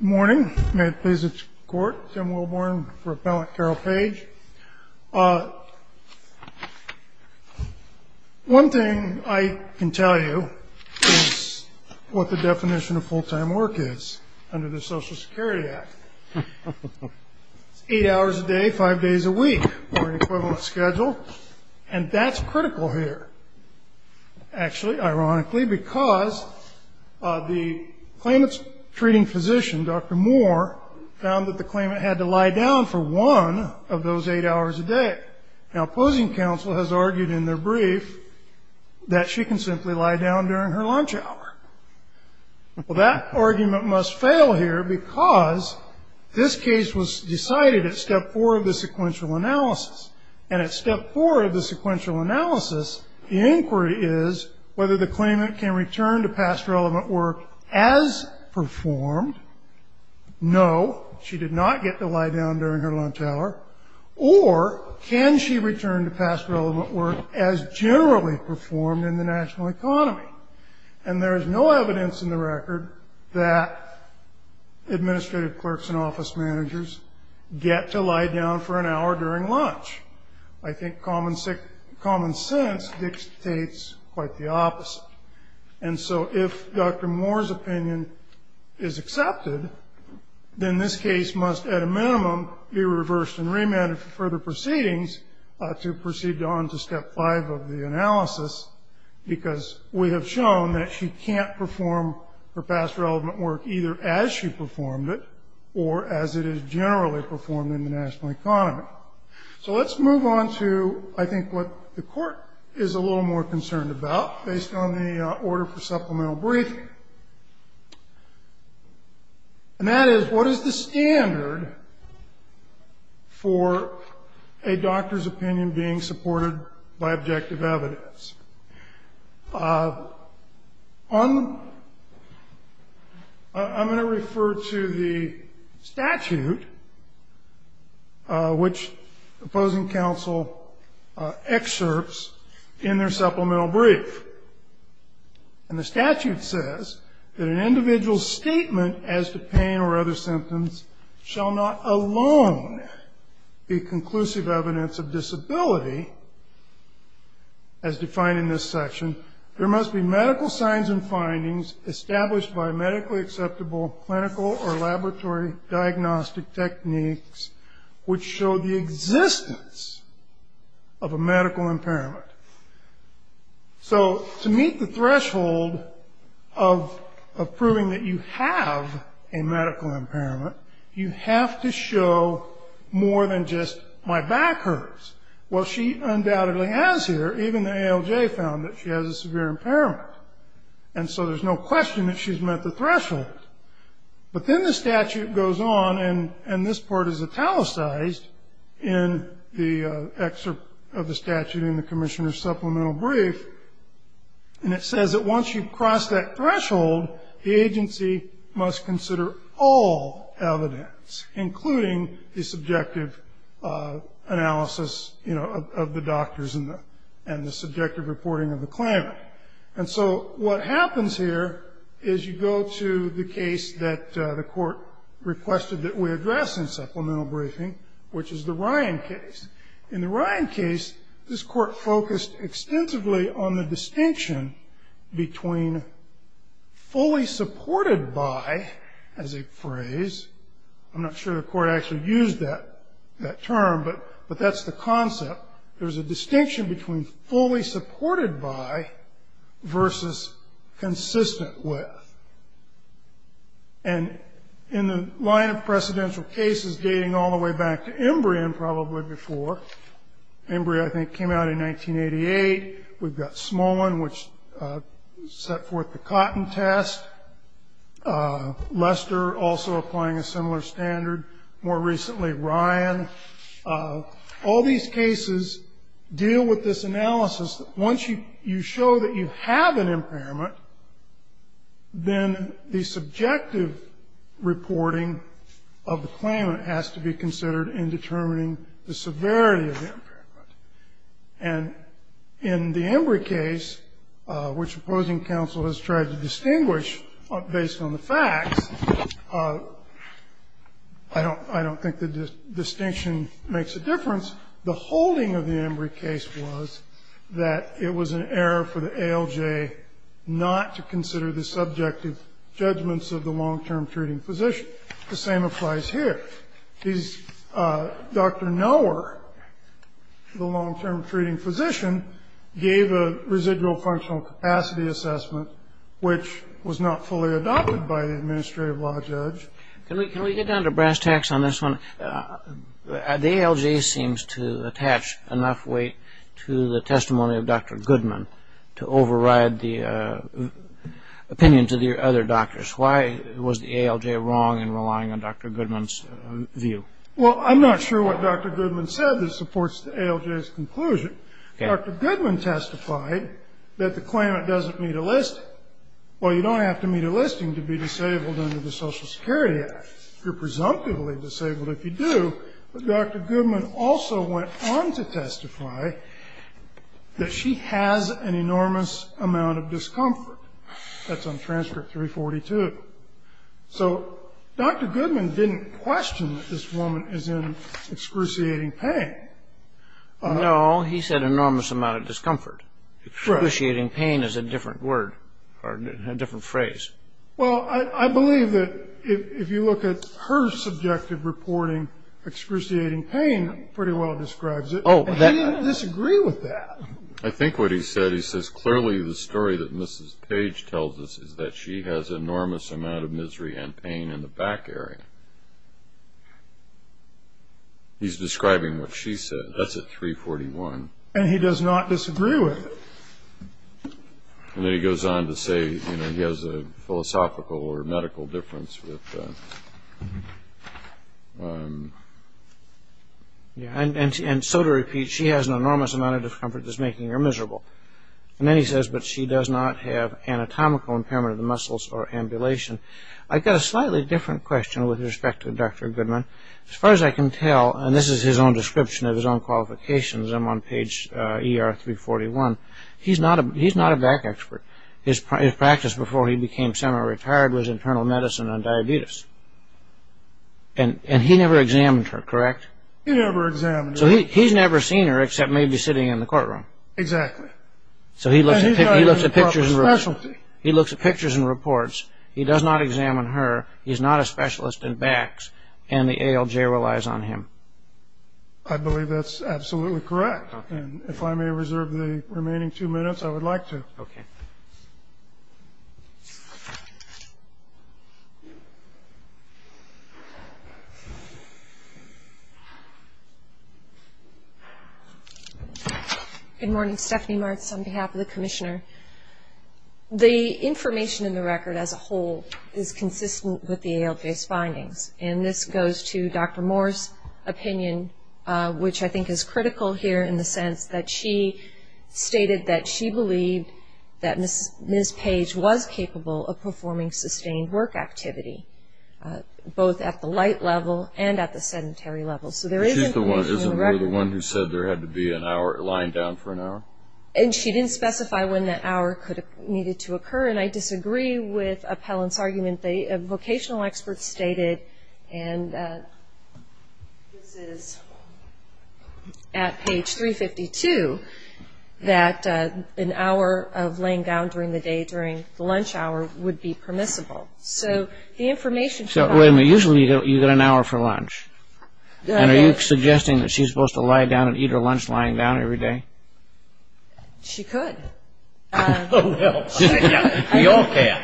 Good morning. May it please the Court, Tim Wilborn, Rep. Carol Page. One thing I can tell you is what the definition of full-time work is under the Social Security Act. It's eight hours a day, five days a week, or an equivalent schedule, and that's critical here. Actually, ironically, because the claimant's treating physician, Dr. Moore, found that the claimant had to lie down for one of those eight hours a day. Now, opposing counsel has argued in their brief that she can simply lie down during her lunch hour. Well, that argument must fail here because this case was decided at step four of the sequential analysis, and at step four of the sequential analysis, the inquiry is whether the claimant can return to past relevant work as performed. No, she did not get to lie down during her lunch hour. Or can she return to past relevant work as generally performed in the national economy? And there is no evidence in the record that administrative clerks and office managers get to lie down for an hour during lunch. I think common sense dictates quite the opposite. And so if Dr. Moore's opinion is accepted, then this case must at a minimum be reversed and remanded for further proceedings to proceed on to step five of the analysis, because we have shown that she can't perform her past relevant work either as she performed it or as it is generally performed in the national economy. So let's move on to, I think, what the Court is a little more concerned about, based on the order for supplemental briefing. And that is, what is the standard for a doctor's opinion being supported by objective evidence? I'm going to refer to the statute, which opposing counsel excerpts in their supplemental brief. And the statute says that an individual's statement as to pain or other symptoms shall not alone be conclusive evidence of disability, as defined in this section, there must be medical signs and findings established by medically acceptable clinical or laboratory diagnostic techniques which show the existence of a medical impairment. So to meet the threshold of proving that you have a medical impairment, you have to show more than just my back hurts. Well, she undoubtedly has here. Even the ALJ found that she has a severe impairment. And so there's no question that she's met the threshold. But then the statute goes on, and this part is italicized in the excerpt of the statute in the commissioner's supplemental brief, and it says that once you've crossed that threshold, the agency must consider all evidence, including the subjective analysis, you know, of the doctors and the subjective reporting of the claimant. And so what happens here is you go to the case that the court requested that we address in supplemental briefing, which is the Ryan case. In the Ryan case, this court focused extensively on the distinction between fully supported by, as a phrase, I'm not sure the court actually used that term, but that's the concept. There's a distinction between fully supported by versus consistent with. And in the line of precedential cases dating all the way back to Embry and probably before, Embry, I think, came out in 1988. We've got Smolin, which set forth the cotton test. Lester also applying a similar standard. More recently, Ryan. All these cases deal with this analysis that once you show that you have an impairment, then the subjective reporting of the claimant has to be considered in determining the severity of the impairment. And in the Embry case, which opposing counsel has tried to distinguish based on the facts, I don't think the distinction makes a difference. The holding of the Embry case was that it was an error for the ALJ not to consider the subjective judgments of the long-term treating physician. The same applies here. Dr. Nowar, the long-term treating physician, gave a residual functional capacity which was not fully adopted by the administrative law judge. Can we get down to brass tacks on this one? The ALJ seems to attach enough weight to the testimony of Dr. Goodman to override the opinion to the other doctors. Why was the ALJ wrong in relying on Dr. Goodman's view? Well, I'm not sure what Dr. Goodman said that supports the ALJ's conclusion. Dr. Goodman testified that the claimant doesn't need a listing. Well, you don't have to meet a listing to be disabled under the Social Security Act. You're presumptively disabled if you do. But Dr. Goodman also went on to testify that she has an enormous amount of discomfort. That's on transcript 342. So Dr. Goodman didn't question that this woman is in excruciating pain. No, he said enormous amount of discomfort. Excruciating pain is a different word or a different phrase. Well, I believe that if you look at her subjective reporting, excruciating pain pretty well describes it. He didn't disagree with that. I think what he said, he says clearly the story that Mrs. Page tells us is that she has enormous amount of misery and pain in the back area. He's describing what she said. That's at 341. And he does not disagree with it. And then he goes on to say, you know, he has a philosophical or medical difference with... And so to repeat, she has an enormous amount of discomfort that's making her miserable. And then he says, but she does not have anatomical impairment of the muscles or ambulation. I've got a slightly different question with respect to Dr. Goodman. As far as I can tell, and this is his own description of his own qualifications. I'm on page ER 341. He's not a back expert. His practice before he became semi-retired was internal medicine on diabetes. And he never examined her, correct? He never examined her. So he's never seen her except maybe sitting in the courtroom. Exactly. So he looks at pictures and reports. He looks at pictures and reports. He does not examine her. He's not a specialist in backs. And the ALJ relies on him. I believe that's absolutely correct. And if I may reserve the remaining two minutes, I would like to. Okay. Good morning. Stephanie Martz on behalf of the commissioner. The information in the record as a whole is consistent with the ALJ's findings. And this goes to Dr. Moore's opinion, which I think is critical here in the sense that she stated that she believed that Ms. Page was capable of performing sustained work activity, both at the light level and at the sedentary level. So there is information in the record. She's the one who said there had to be a line down for an hour? And she didn't specify when that hour needed to occur. And I disagree with Appellant's argument. A vocational expert stated, and this is at page 352, that an hour of laying down during the day during the lunch hour would be permissible. So the information from that. Wait a minute. Usually you get an hour for lunch. And are you suggesting that she's supposed to lie down and eat her lunch lying down every day? She could. Oh, well. We all can.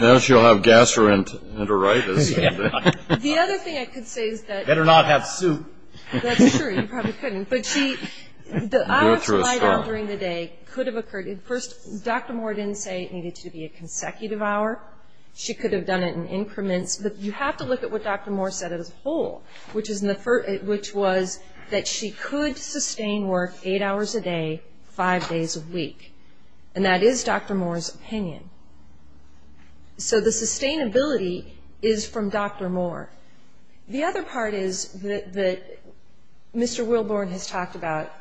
Now she'll have gas or enteritis. The other thing I could say is that... Better not have soup. That's true. You probably couldn't. But she... The hour to lie down during the day could have occurred. First, Dr. Moore didn't say it needed to be a consecutive hour. She could have done it in increments. You have to look at what Dr. Moore said as a whole, which was that she could sustain work eight hours a day, five days a week. And that is Dr. Moore's opinion. So the sustainability is from Dr. Moore. The other part is that Mr. Wilborn has talked about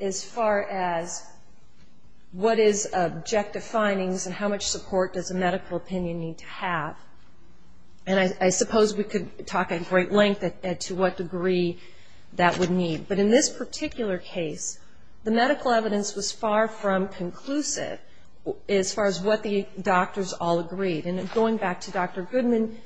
as far as what is objective findings and how much support does a medical opinion need to have. And I suppose we could talk at great length to what degree that would need. But in this particular case, the medical evidence was far from conclusive as far as what the doctors all agreed. And going back to Dr. Goodman,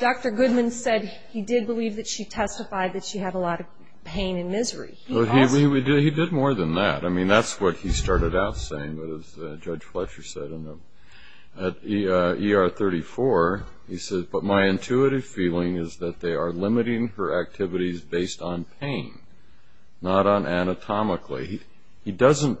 Dr. Goodman said he did believe that she testified that she had a lot of pain and misery. He did more than that. I mean, that's what he started out saying, as Judge Fletcher said. At ER 34, he said, but my intuitive feeling is that they are limiting her activities based on pain, not on anatomically. He doesn't,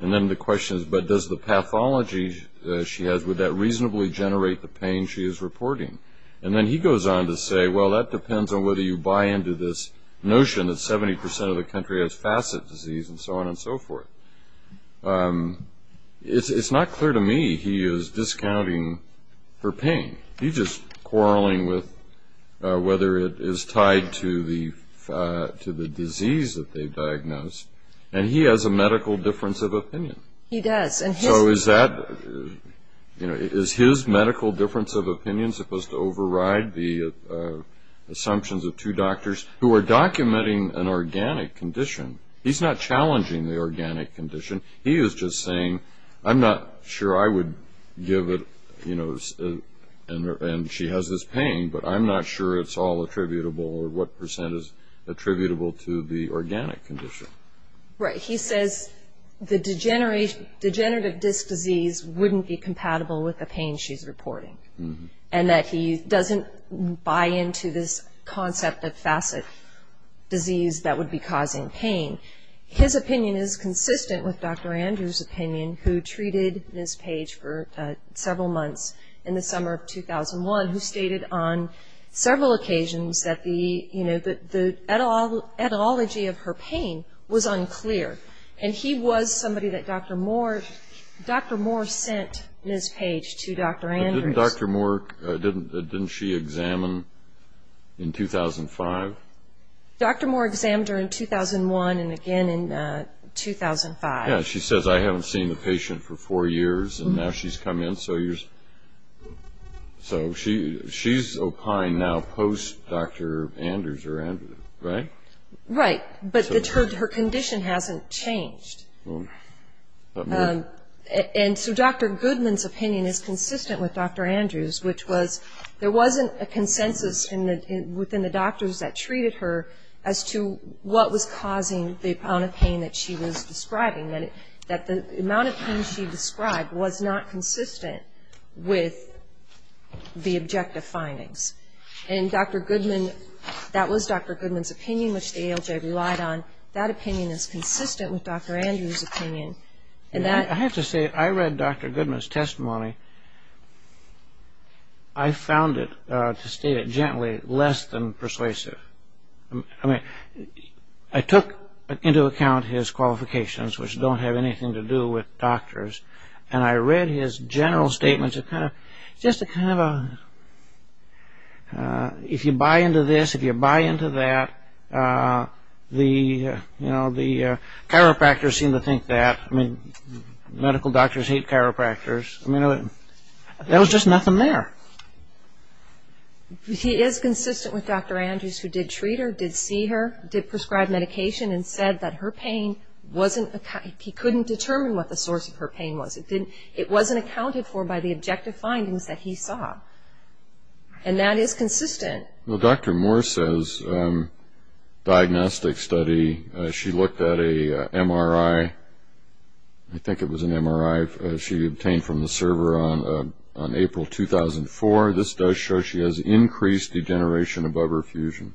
and then the question is, but does the pathology she has, would that reasonably generate the pain she is reporting? And then he goes on to say, well, that depends on whether you buy into this notion that 70% of the country has facet disease and so on and so forth. It's not clear to me he is discounting her pain. He's just quarreling with whether it is tied to the disease that they've diagnosed. And he has a medical difference of opinion. He does. So is his medical difference of opinion supposed to override the assumptions of two doctors who are documenting an organic condition? He's not challenging the organic condition. He is just saying, I'm not sure I would give it, you know, and she has this pain, but I'm not sure it's all attributable or what percent is attributable to the organic condition. Right. He says the degenerative disc disease wouldn't be compatible with the pain she's reporting and that he doesn't buy into this concept of facet disease that would be causing pain. His opinion is consistent with Dr. Andrews' opinion, who treated Ms. Page for several months in the summer of 2001, who stated on several occasions that the etiology of her pain was unclear. And he was somebody that Dr. Moore sent Ms. Page to Dr. Andrews. Didn't Dr. Moore, didn't she examine in 2005? Dr. Moore examined her in 2001 and again in 2005. Yeah, she says, I haven't seen the patient for four years, and now she's come in. So she's opine now post-Dr. Andrews, right? Right, but her condition hasn't changed. And so Dr. Goodman's opinion is consistent with Dr. Andrews', which was there wasn't a consensus within the doctors that treated her as to what was causing the amount of pain that she was describing, that the amount of pain she described was not consistent with the objective findings. And Dr. Goodman, that was Dr. Goodman's opinion, which the ALJ relied on. That opinion is consistent with Dr. Andrews' opinion. I have to say, I read Dr. Goodman's testimony. I found it, to state it gently, less than persuasive. I took into account his qualifications, which don't have anything to do with doctors, and I read his general statements, just a kind of a, if you buy into this, if you buy into that, the chiropractors seem to think that. I mean, medical doctors hate chiropractors. I mean, there was just nothing there. He is consistent with Dr. Andrews, who did treat her, did see her, did prescribe medication, and said that her pain wasn't, he couldn't determine what the source of her pain was. It wasn't accounted for by the objective findings that he saw. And that is consistent. Well, Dr. Moore says diagnostic study, she looked at a MRI, I think it was an MRI, she obtained from the server on April 2004. This does show she has increased degeneration above her fusion.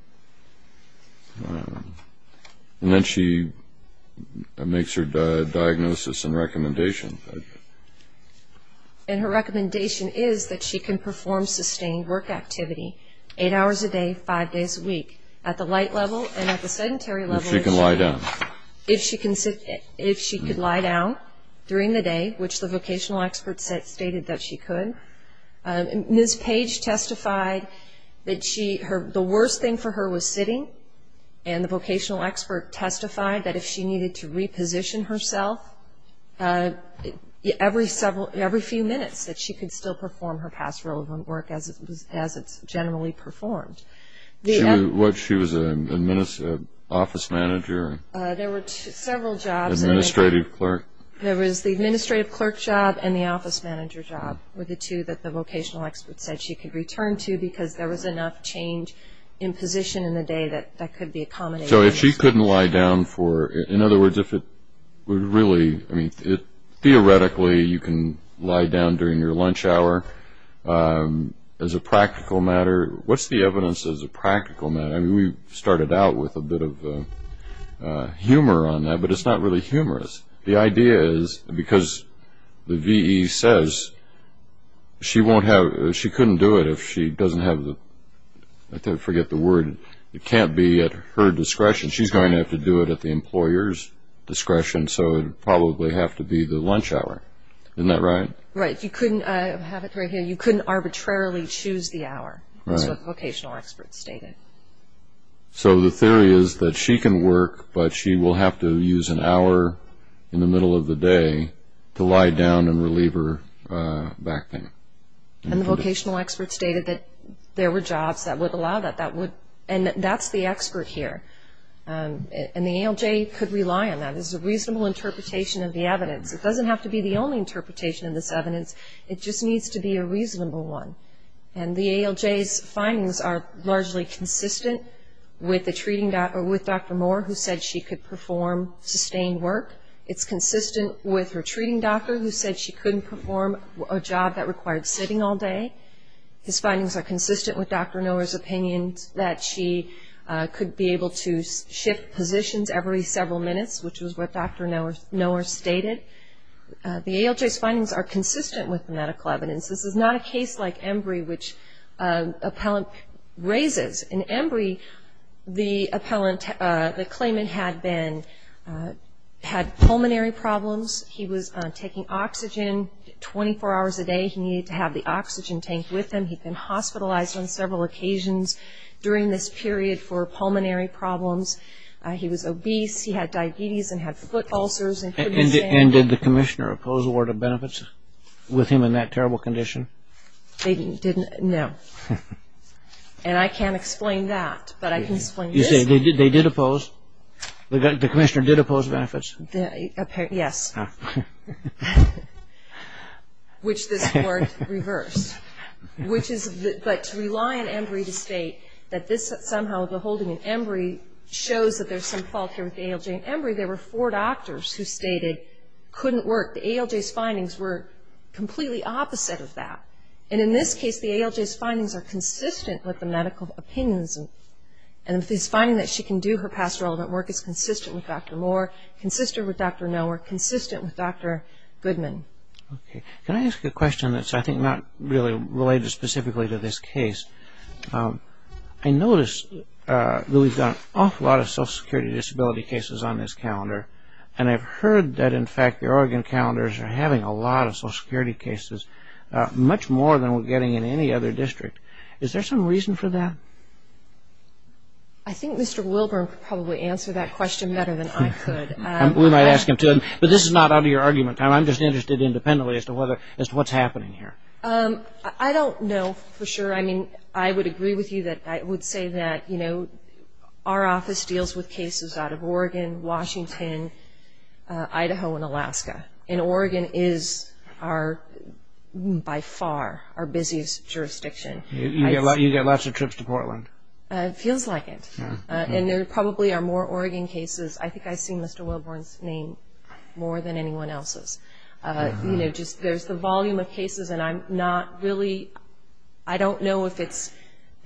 And then she makes her diagnosis and recommendation. And her recommendation is that she can perform sustained work activity, eight hours a day, five days a week, at the light level and at the sedentary level. If she can lie down. If she could lie down during the day, which the vocational expert stated that she could. Ms. Page testified that the worst thing for her was sitting, and the vocational expert testified that if she needed to reposition herself, every few minutes that she could still perform her past relevant work as it's generally performed. She was an office manager? There were several jobs. Administrative clerk? There was the administrative clerk job and the office manager job were the two that the vocational expert said she could return to because there was enough change in position in the day that that could be accommodated. So if she couldn't lie down for, in other words, if it would really, I mean, theoretically you can lie down during your lunch hour as a practical matter. What's the evidence as a practical matter? I mean, we started out with a bit of humor on that, but it's not really humorous. The idea is because the VE says she won't have, she couldn't do it if she doesn't have the, I forget the word, it can't be at her discretion. She's going to have to do it at the employer's discretion, so it would probably have to be the lunch hour. Isn't that right? Right. You couldn't arbitrarily choose the hour, as the vocational expert stated. So the theory is that she can work, but she will have to use an hour in the middle of the day to lie down and relieve her back pain. And the vocational expert stated that there were jobs that would allow that, and that's the expert here. And the ALJ could rely on that. This is a reasonable interpretation of the evidence. It doesn't have to be the only interpretation of this evidence. It just needs to be a reasonable one. And the ALJ's findings are largely consistent with the treating doctor, with Dr. Moore, who said she could perform sustained work. It's consistent with her treating doctor, who said she couldn't perform a job that required sitting all day. His findings are consistent with Dr. Noah's opinion that she could be able to shift positions every several minutes, which is what Dr. Noah stated. The ALJ's findings are consistent with the medical evidence. This is not a case like Embry, which an appellant raises. In Embry, the claimant had pulmonary problems. He was taking oxygen 24 hours a day. He needed to have the oxygen tank with him. He'd been hospitalized on several occasions during this period for pulmonary problems. He was obese. He had diabetes and had foot ulcers. And did the commissioner oppose a ward of benefits with him in that terrible condition? They didn't, no. And I can't explain that, but I can explain this. You say they did oppose? The commissioner did oppose benefits? Yes. Which this court reversed. But to rely on Embry to state that this is somehow the holding in Embry shows that there's some fault here with the ALJ. In Embry, there were four doctors who stated couldn't work. The ALJ's findings were completely opposite of that. And in this case, the ALJ's findings are consistent with the medical opinions. And this finding that she can do her past relevant work is consistent with Dr. Moore, consistent with Dr. Nowher, consistent with Dr. Goodman. Okay. Can I ask a question that's, I think, not really related specifically to this case? I notice that we've got an awful lot of social security disability cases on this calendar, and I've heard that, in fact, the Oregon calendars are having a lot of social security cases, much more than we're getting in any other district. Is there some reason for that? I think Mr. Wilburn could probably answer that question better than I could. We might ask him to. But this is not out of your argument. I'm just interested independently as to what's happening here. I don't know for sure. I mean, I would agree with you that I would say that, you know, our office deals with cases out of Oregon, Washington, Idaho, and Alaska. And Oregon is our, by far, our busiest jurisdiction. You get lots of trips to Portland. It feels like it. And there probably are more Oregon cases. I think I see Mr. Wilburn's name more than anyone else's. You know, just there's the volume of cases, and I'm not really, I don't know if it's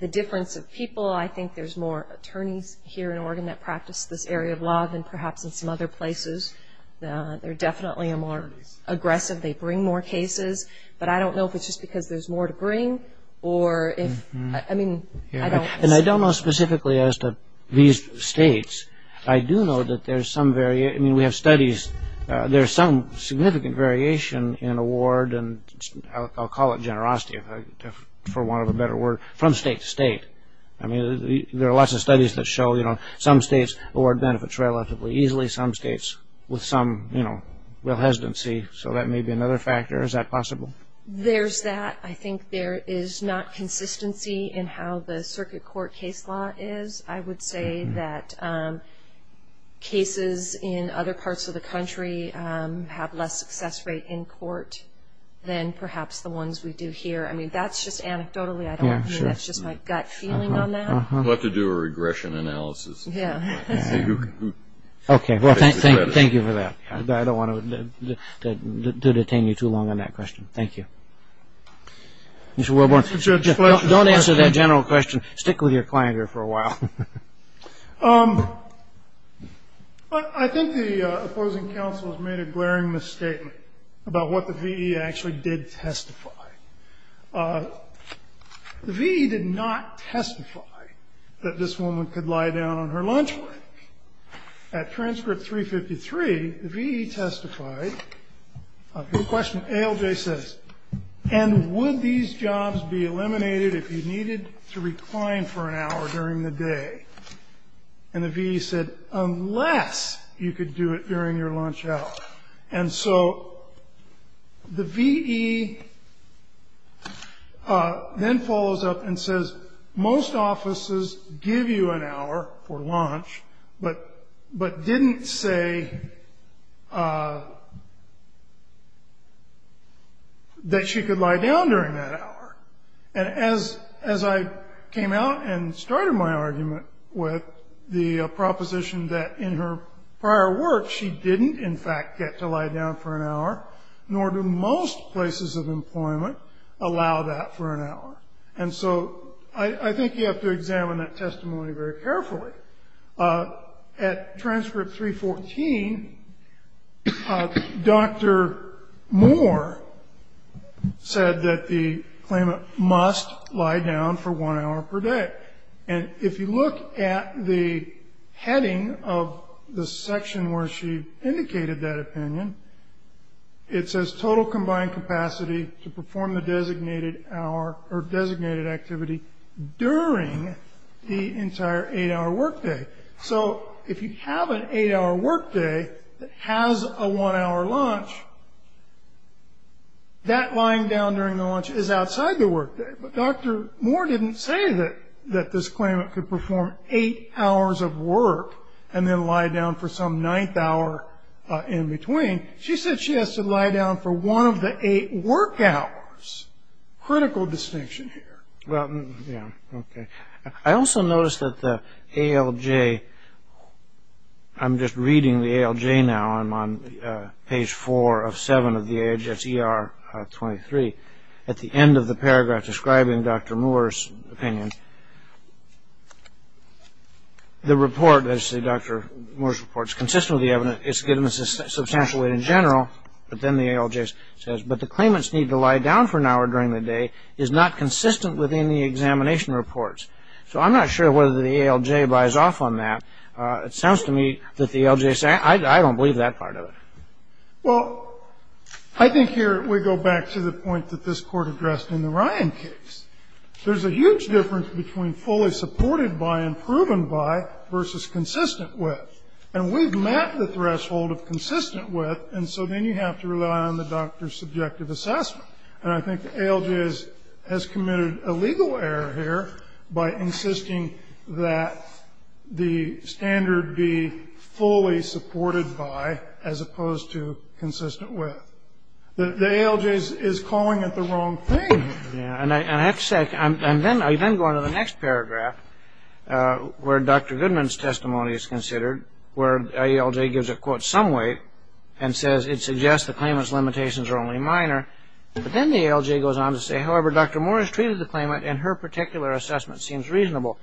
the difference of people. I think there's more attorneys here in Oregon that practice this area of law than perhaps in some other places. They're definitely more aggressive. They bring more cases. But I don't know if it's just because there's more to bring or if, I mean, I don't. And I don't know specifically as to these states. I do know that there's some variation. I mean, we have studies. There's some significant variation in award, and I'll call it generosity, for want of a better word, from state to state. I mean, there are lots of studies that show, you know, some states award benefits relatively easily. There are probably some states with some, you know, real hesitancy. So that may be another factor. Is that possible? There's that. I think there is not consistency in how the circuit court case law is. I would say that cases in other parts of the country have less success rate in court than perhaps the ones we do here. I mean, that's just anecdotally. I don't know. I mean, that's just my gut feeling on that. We'll have to do a regression analysis. Okay. Well, thank you for that. I don't want to detain you too long on that question. Thank you. Mr. Wilborn, don't answer that general question. Stick with your clangor for a while. I think the opposing counsel has made a glaring misstatement about what the VE actually did testify. The VE did not testify that this woman could lie down on her lunch break. At transcript 353, the VE testified. The question ALJ says, and would these jobs be eliminated if you needed to recline for an hour during the day? And the VE said, unless you could do it during your lunch hour. And so the VE then follows up and says, most offices give you an hour for lunch, but didn't say that she could lie down during that hour. And as I came out and started my argument with the proposition that in her prior work, she didn't, in fact, get to lie down for an hour, nor do most places of employment allow that for an hour. And so I think you have to examine that testimony very carefully. At transcript 314, Dr. Moore said that the claimant must lie down for one hour per day. And if you look at the heading of the section where she indicated that opinion, it says total combined capacity to perform the designated hour or designated activity during the entire eight-hour workday. So if you have an eight-hour workday that has a one-hour lunch, that lying down during the lunch is outside the workday. But Dr. Moore didn't say that this claimant could perform eight hours of work and then lie down for some ninth hour in between. She said she has to lie down for one of the eight work hours. Critical distinction here. Well, yeah, okay. I also noticed that the ALJ, I'm just reading the ALJ now. I'm on page 4 of 7 of the AGS ER 23. At the end of the paragraph describing Dr. Moore's opinion, the report, as Dr. Moore's report, is consistent with the evidence. It's given a substantial weight in general. But then the ALJ says, but the claimant's need to lie down for an hour during the day is not consistent with any examination reports. So I'm not sure whether the ALJ buys off on that. It sounds to me that the ALJ says, I don't believe that part of it. Well, I think here we go back to the point that this Court addressed in the Ryan case. There's a huge difference between fully supported by and proven by versus consistent with. And we've met the threshold of consistent with, and so then you have to rely on the doctor's subjective assessment. And I think the ALJ has committed a legal error here by insisting that the standard be fully supported by as opposed to consistent with. The ALJ is calling it the wrong thing. And I have to say, and then I then go on to the next paragraph where Dr. Goodman's testimony is considered, where the ALJ gives a quote some weight and says it suggests the claimant's limitations are only minor. But then the ALJ goes on to say, however, Dr. Moore has treated the claimant, and her particular assessment seems reasonable.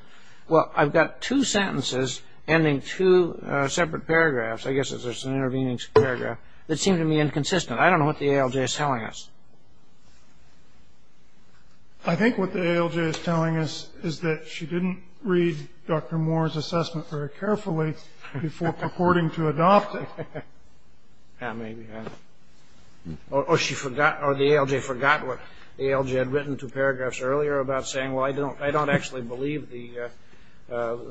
Well, I've got two sentences ending two separate paragraphs. I guess it's just an intervening paragraph that seem to me inconsistent. I don't know what the ALJ is telling us. I think what the ALJ is telling us is that she didn't read Dr. Moore's assessment very carefully before purporting to adopt it. That may be right. Or the ALJ forgot what the ALJ had written two paragraphs earlier about saying, well, I don't actually believe the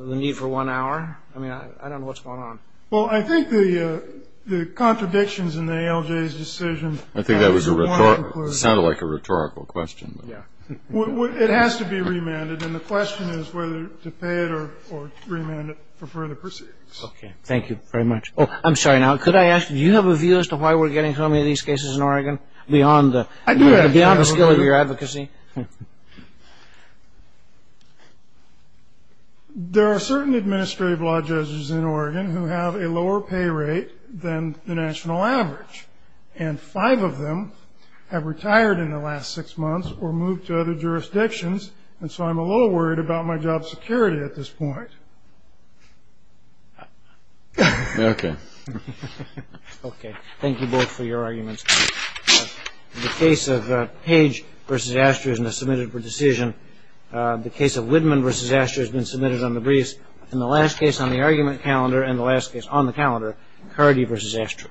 need for one hour. I mean, I don't know what's going on. Well, I think the contradictions in the ALJ's decision. I think that sounded like a rhetorical question. Yeah. It has to be remanded. And the question is whether to pay it or remand it for further proceedings. Okay. Thank you very much. Oh, I'm sorry. Now, could I ask, do you have a view as to why we're getting so many of these cases in Oregon beyond the skill of your advocacy? There are certain administrative law judges in Oregon who have a lower pay rate than the national average. And five of them have retired in the last six months or moved to other jurisdictions, and so I'm a little worried about my job security at this point. Okay. Okay. Thank you both for your arguments. The case of Page v. Astor has been submitted for decision. The case of Widman v. Astor has been submitted on the briefs. And the last case on the argument calendar and the last case on the calendar, Cardi v. Astor.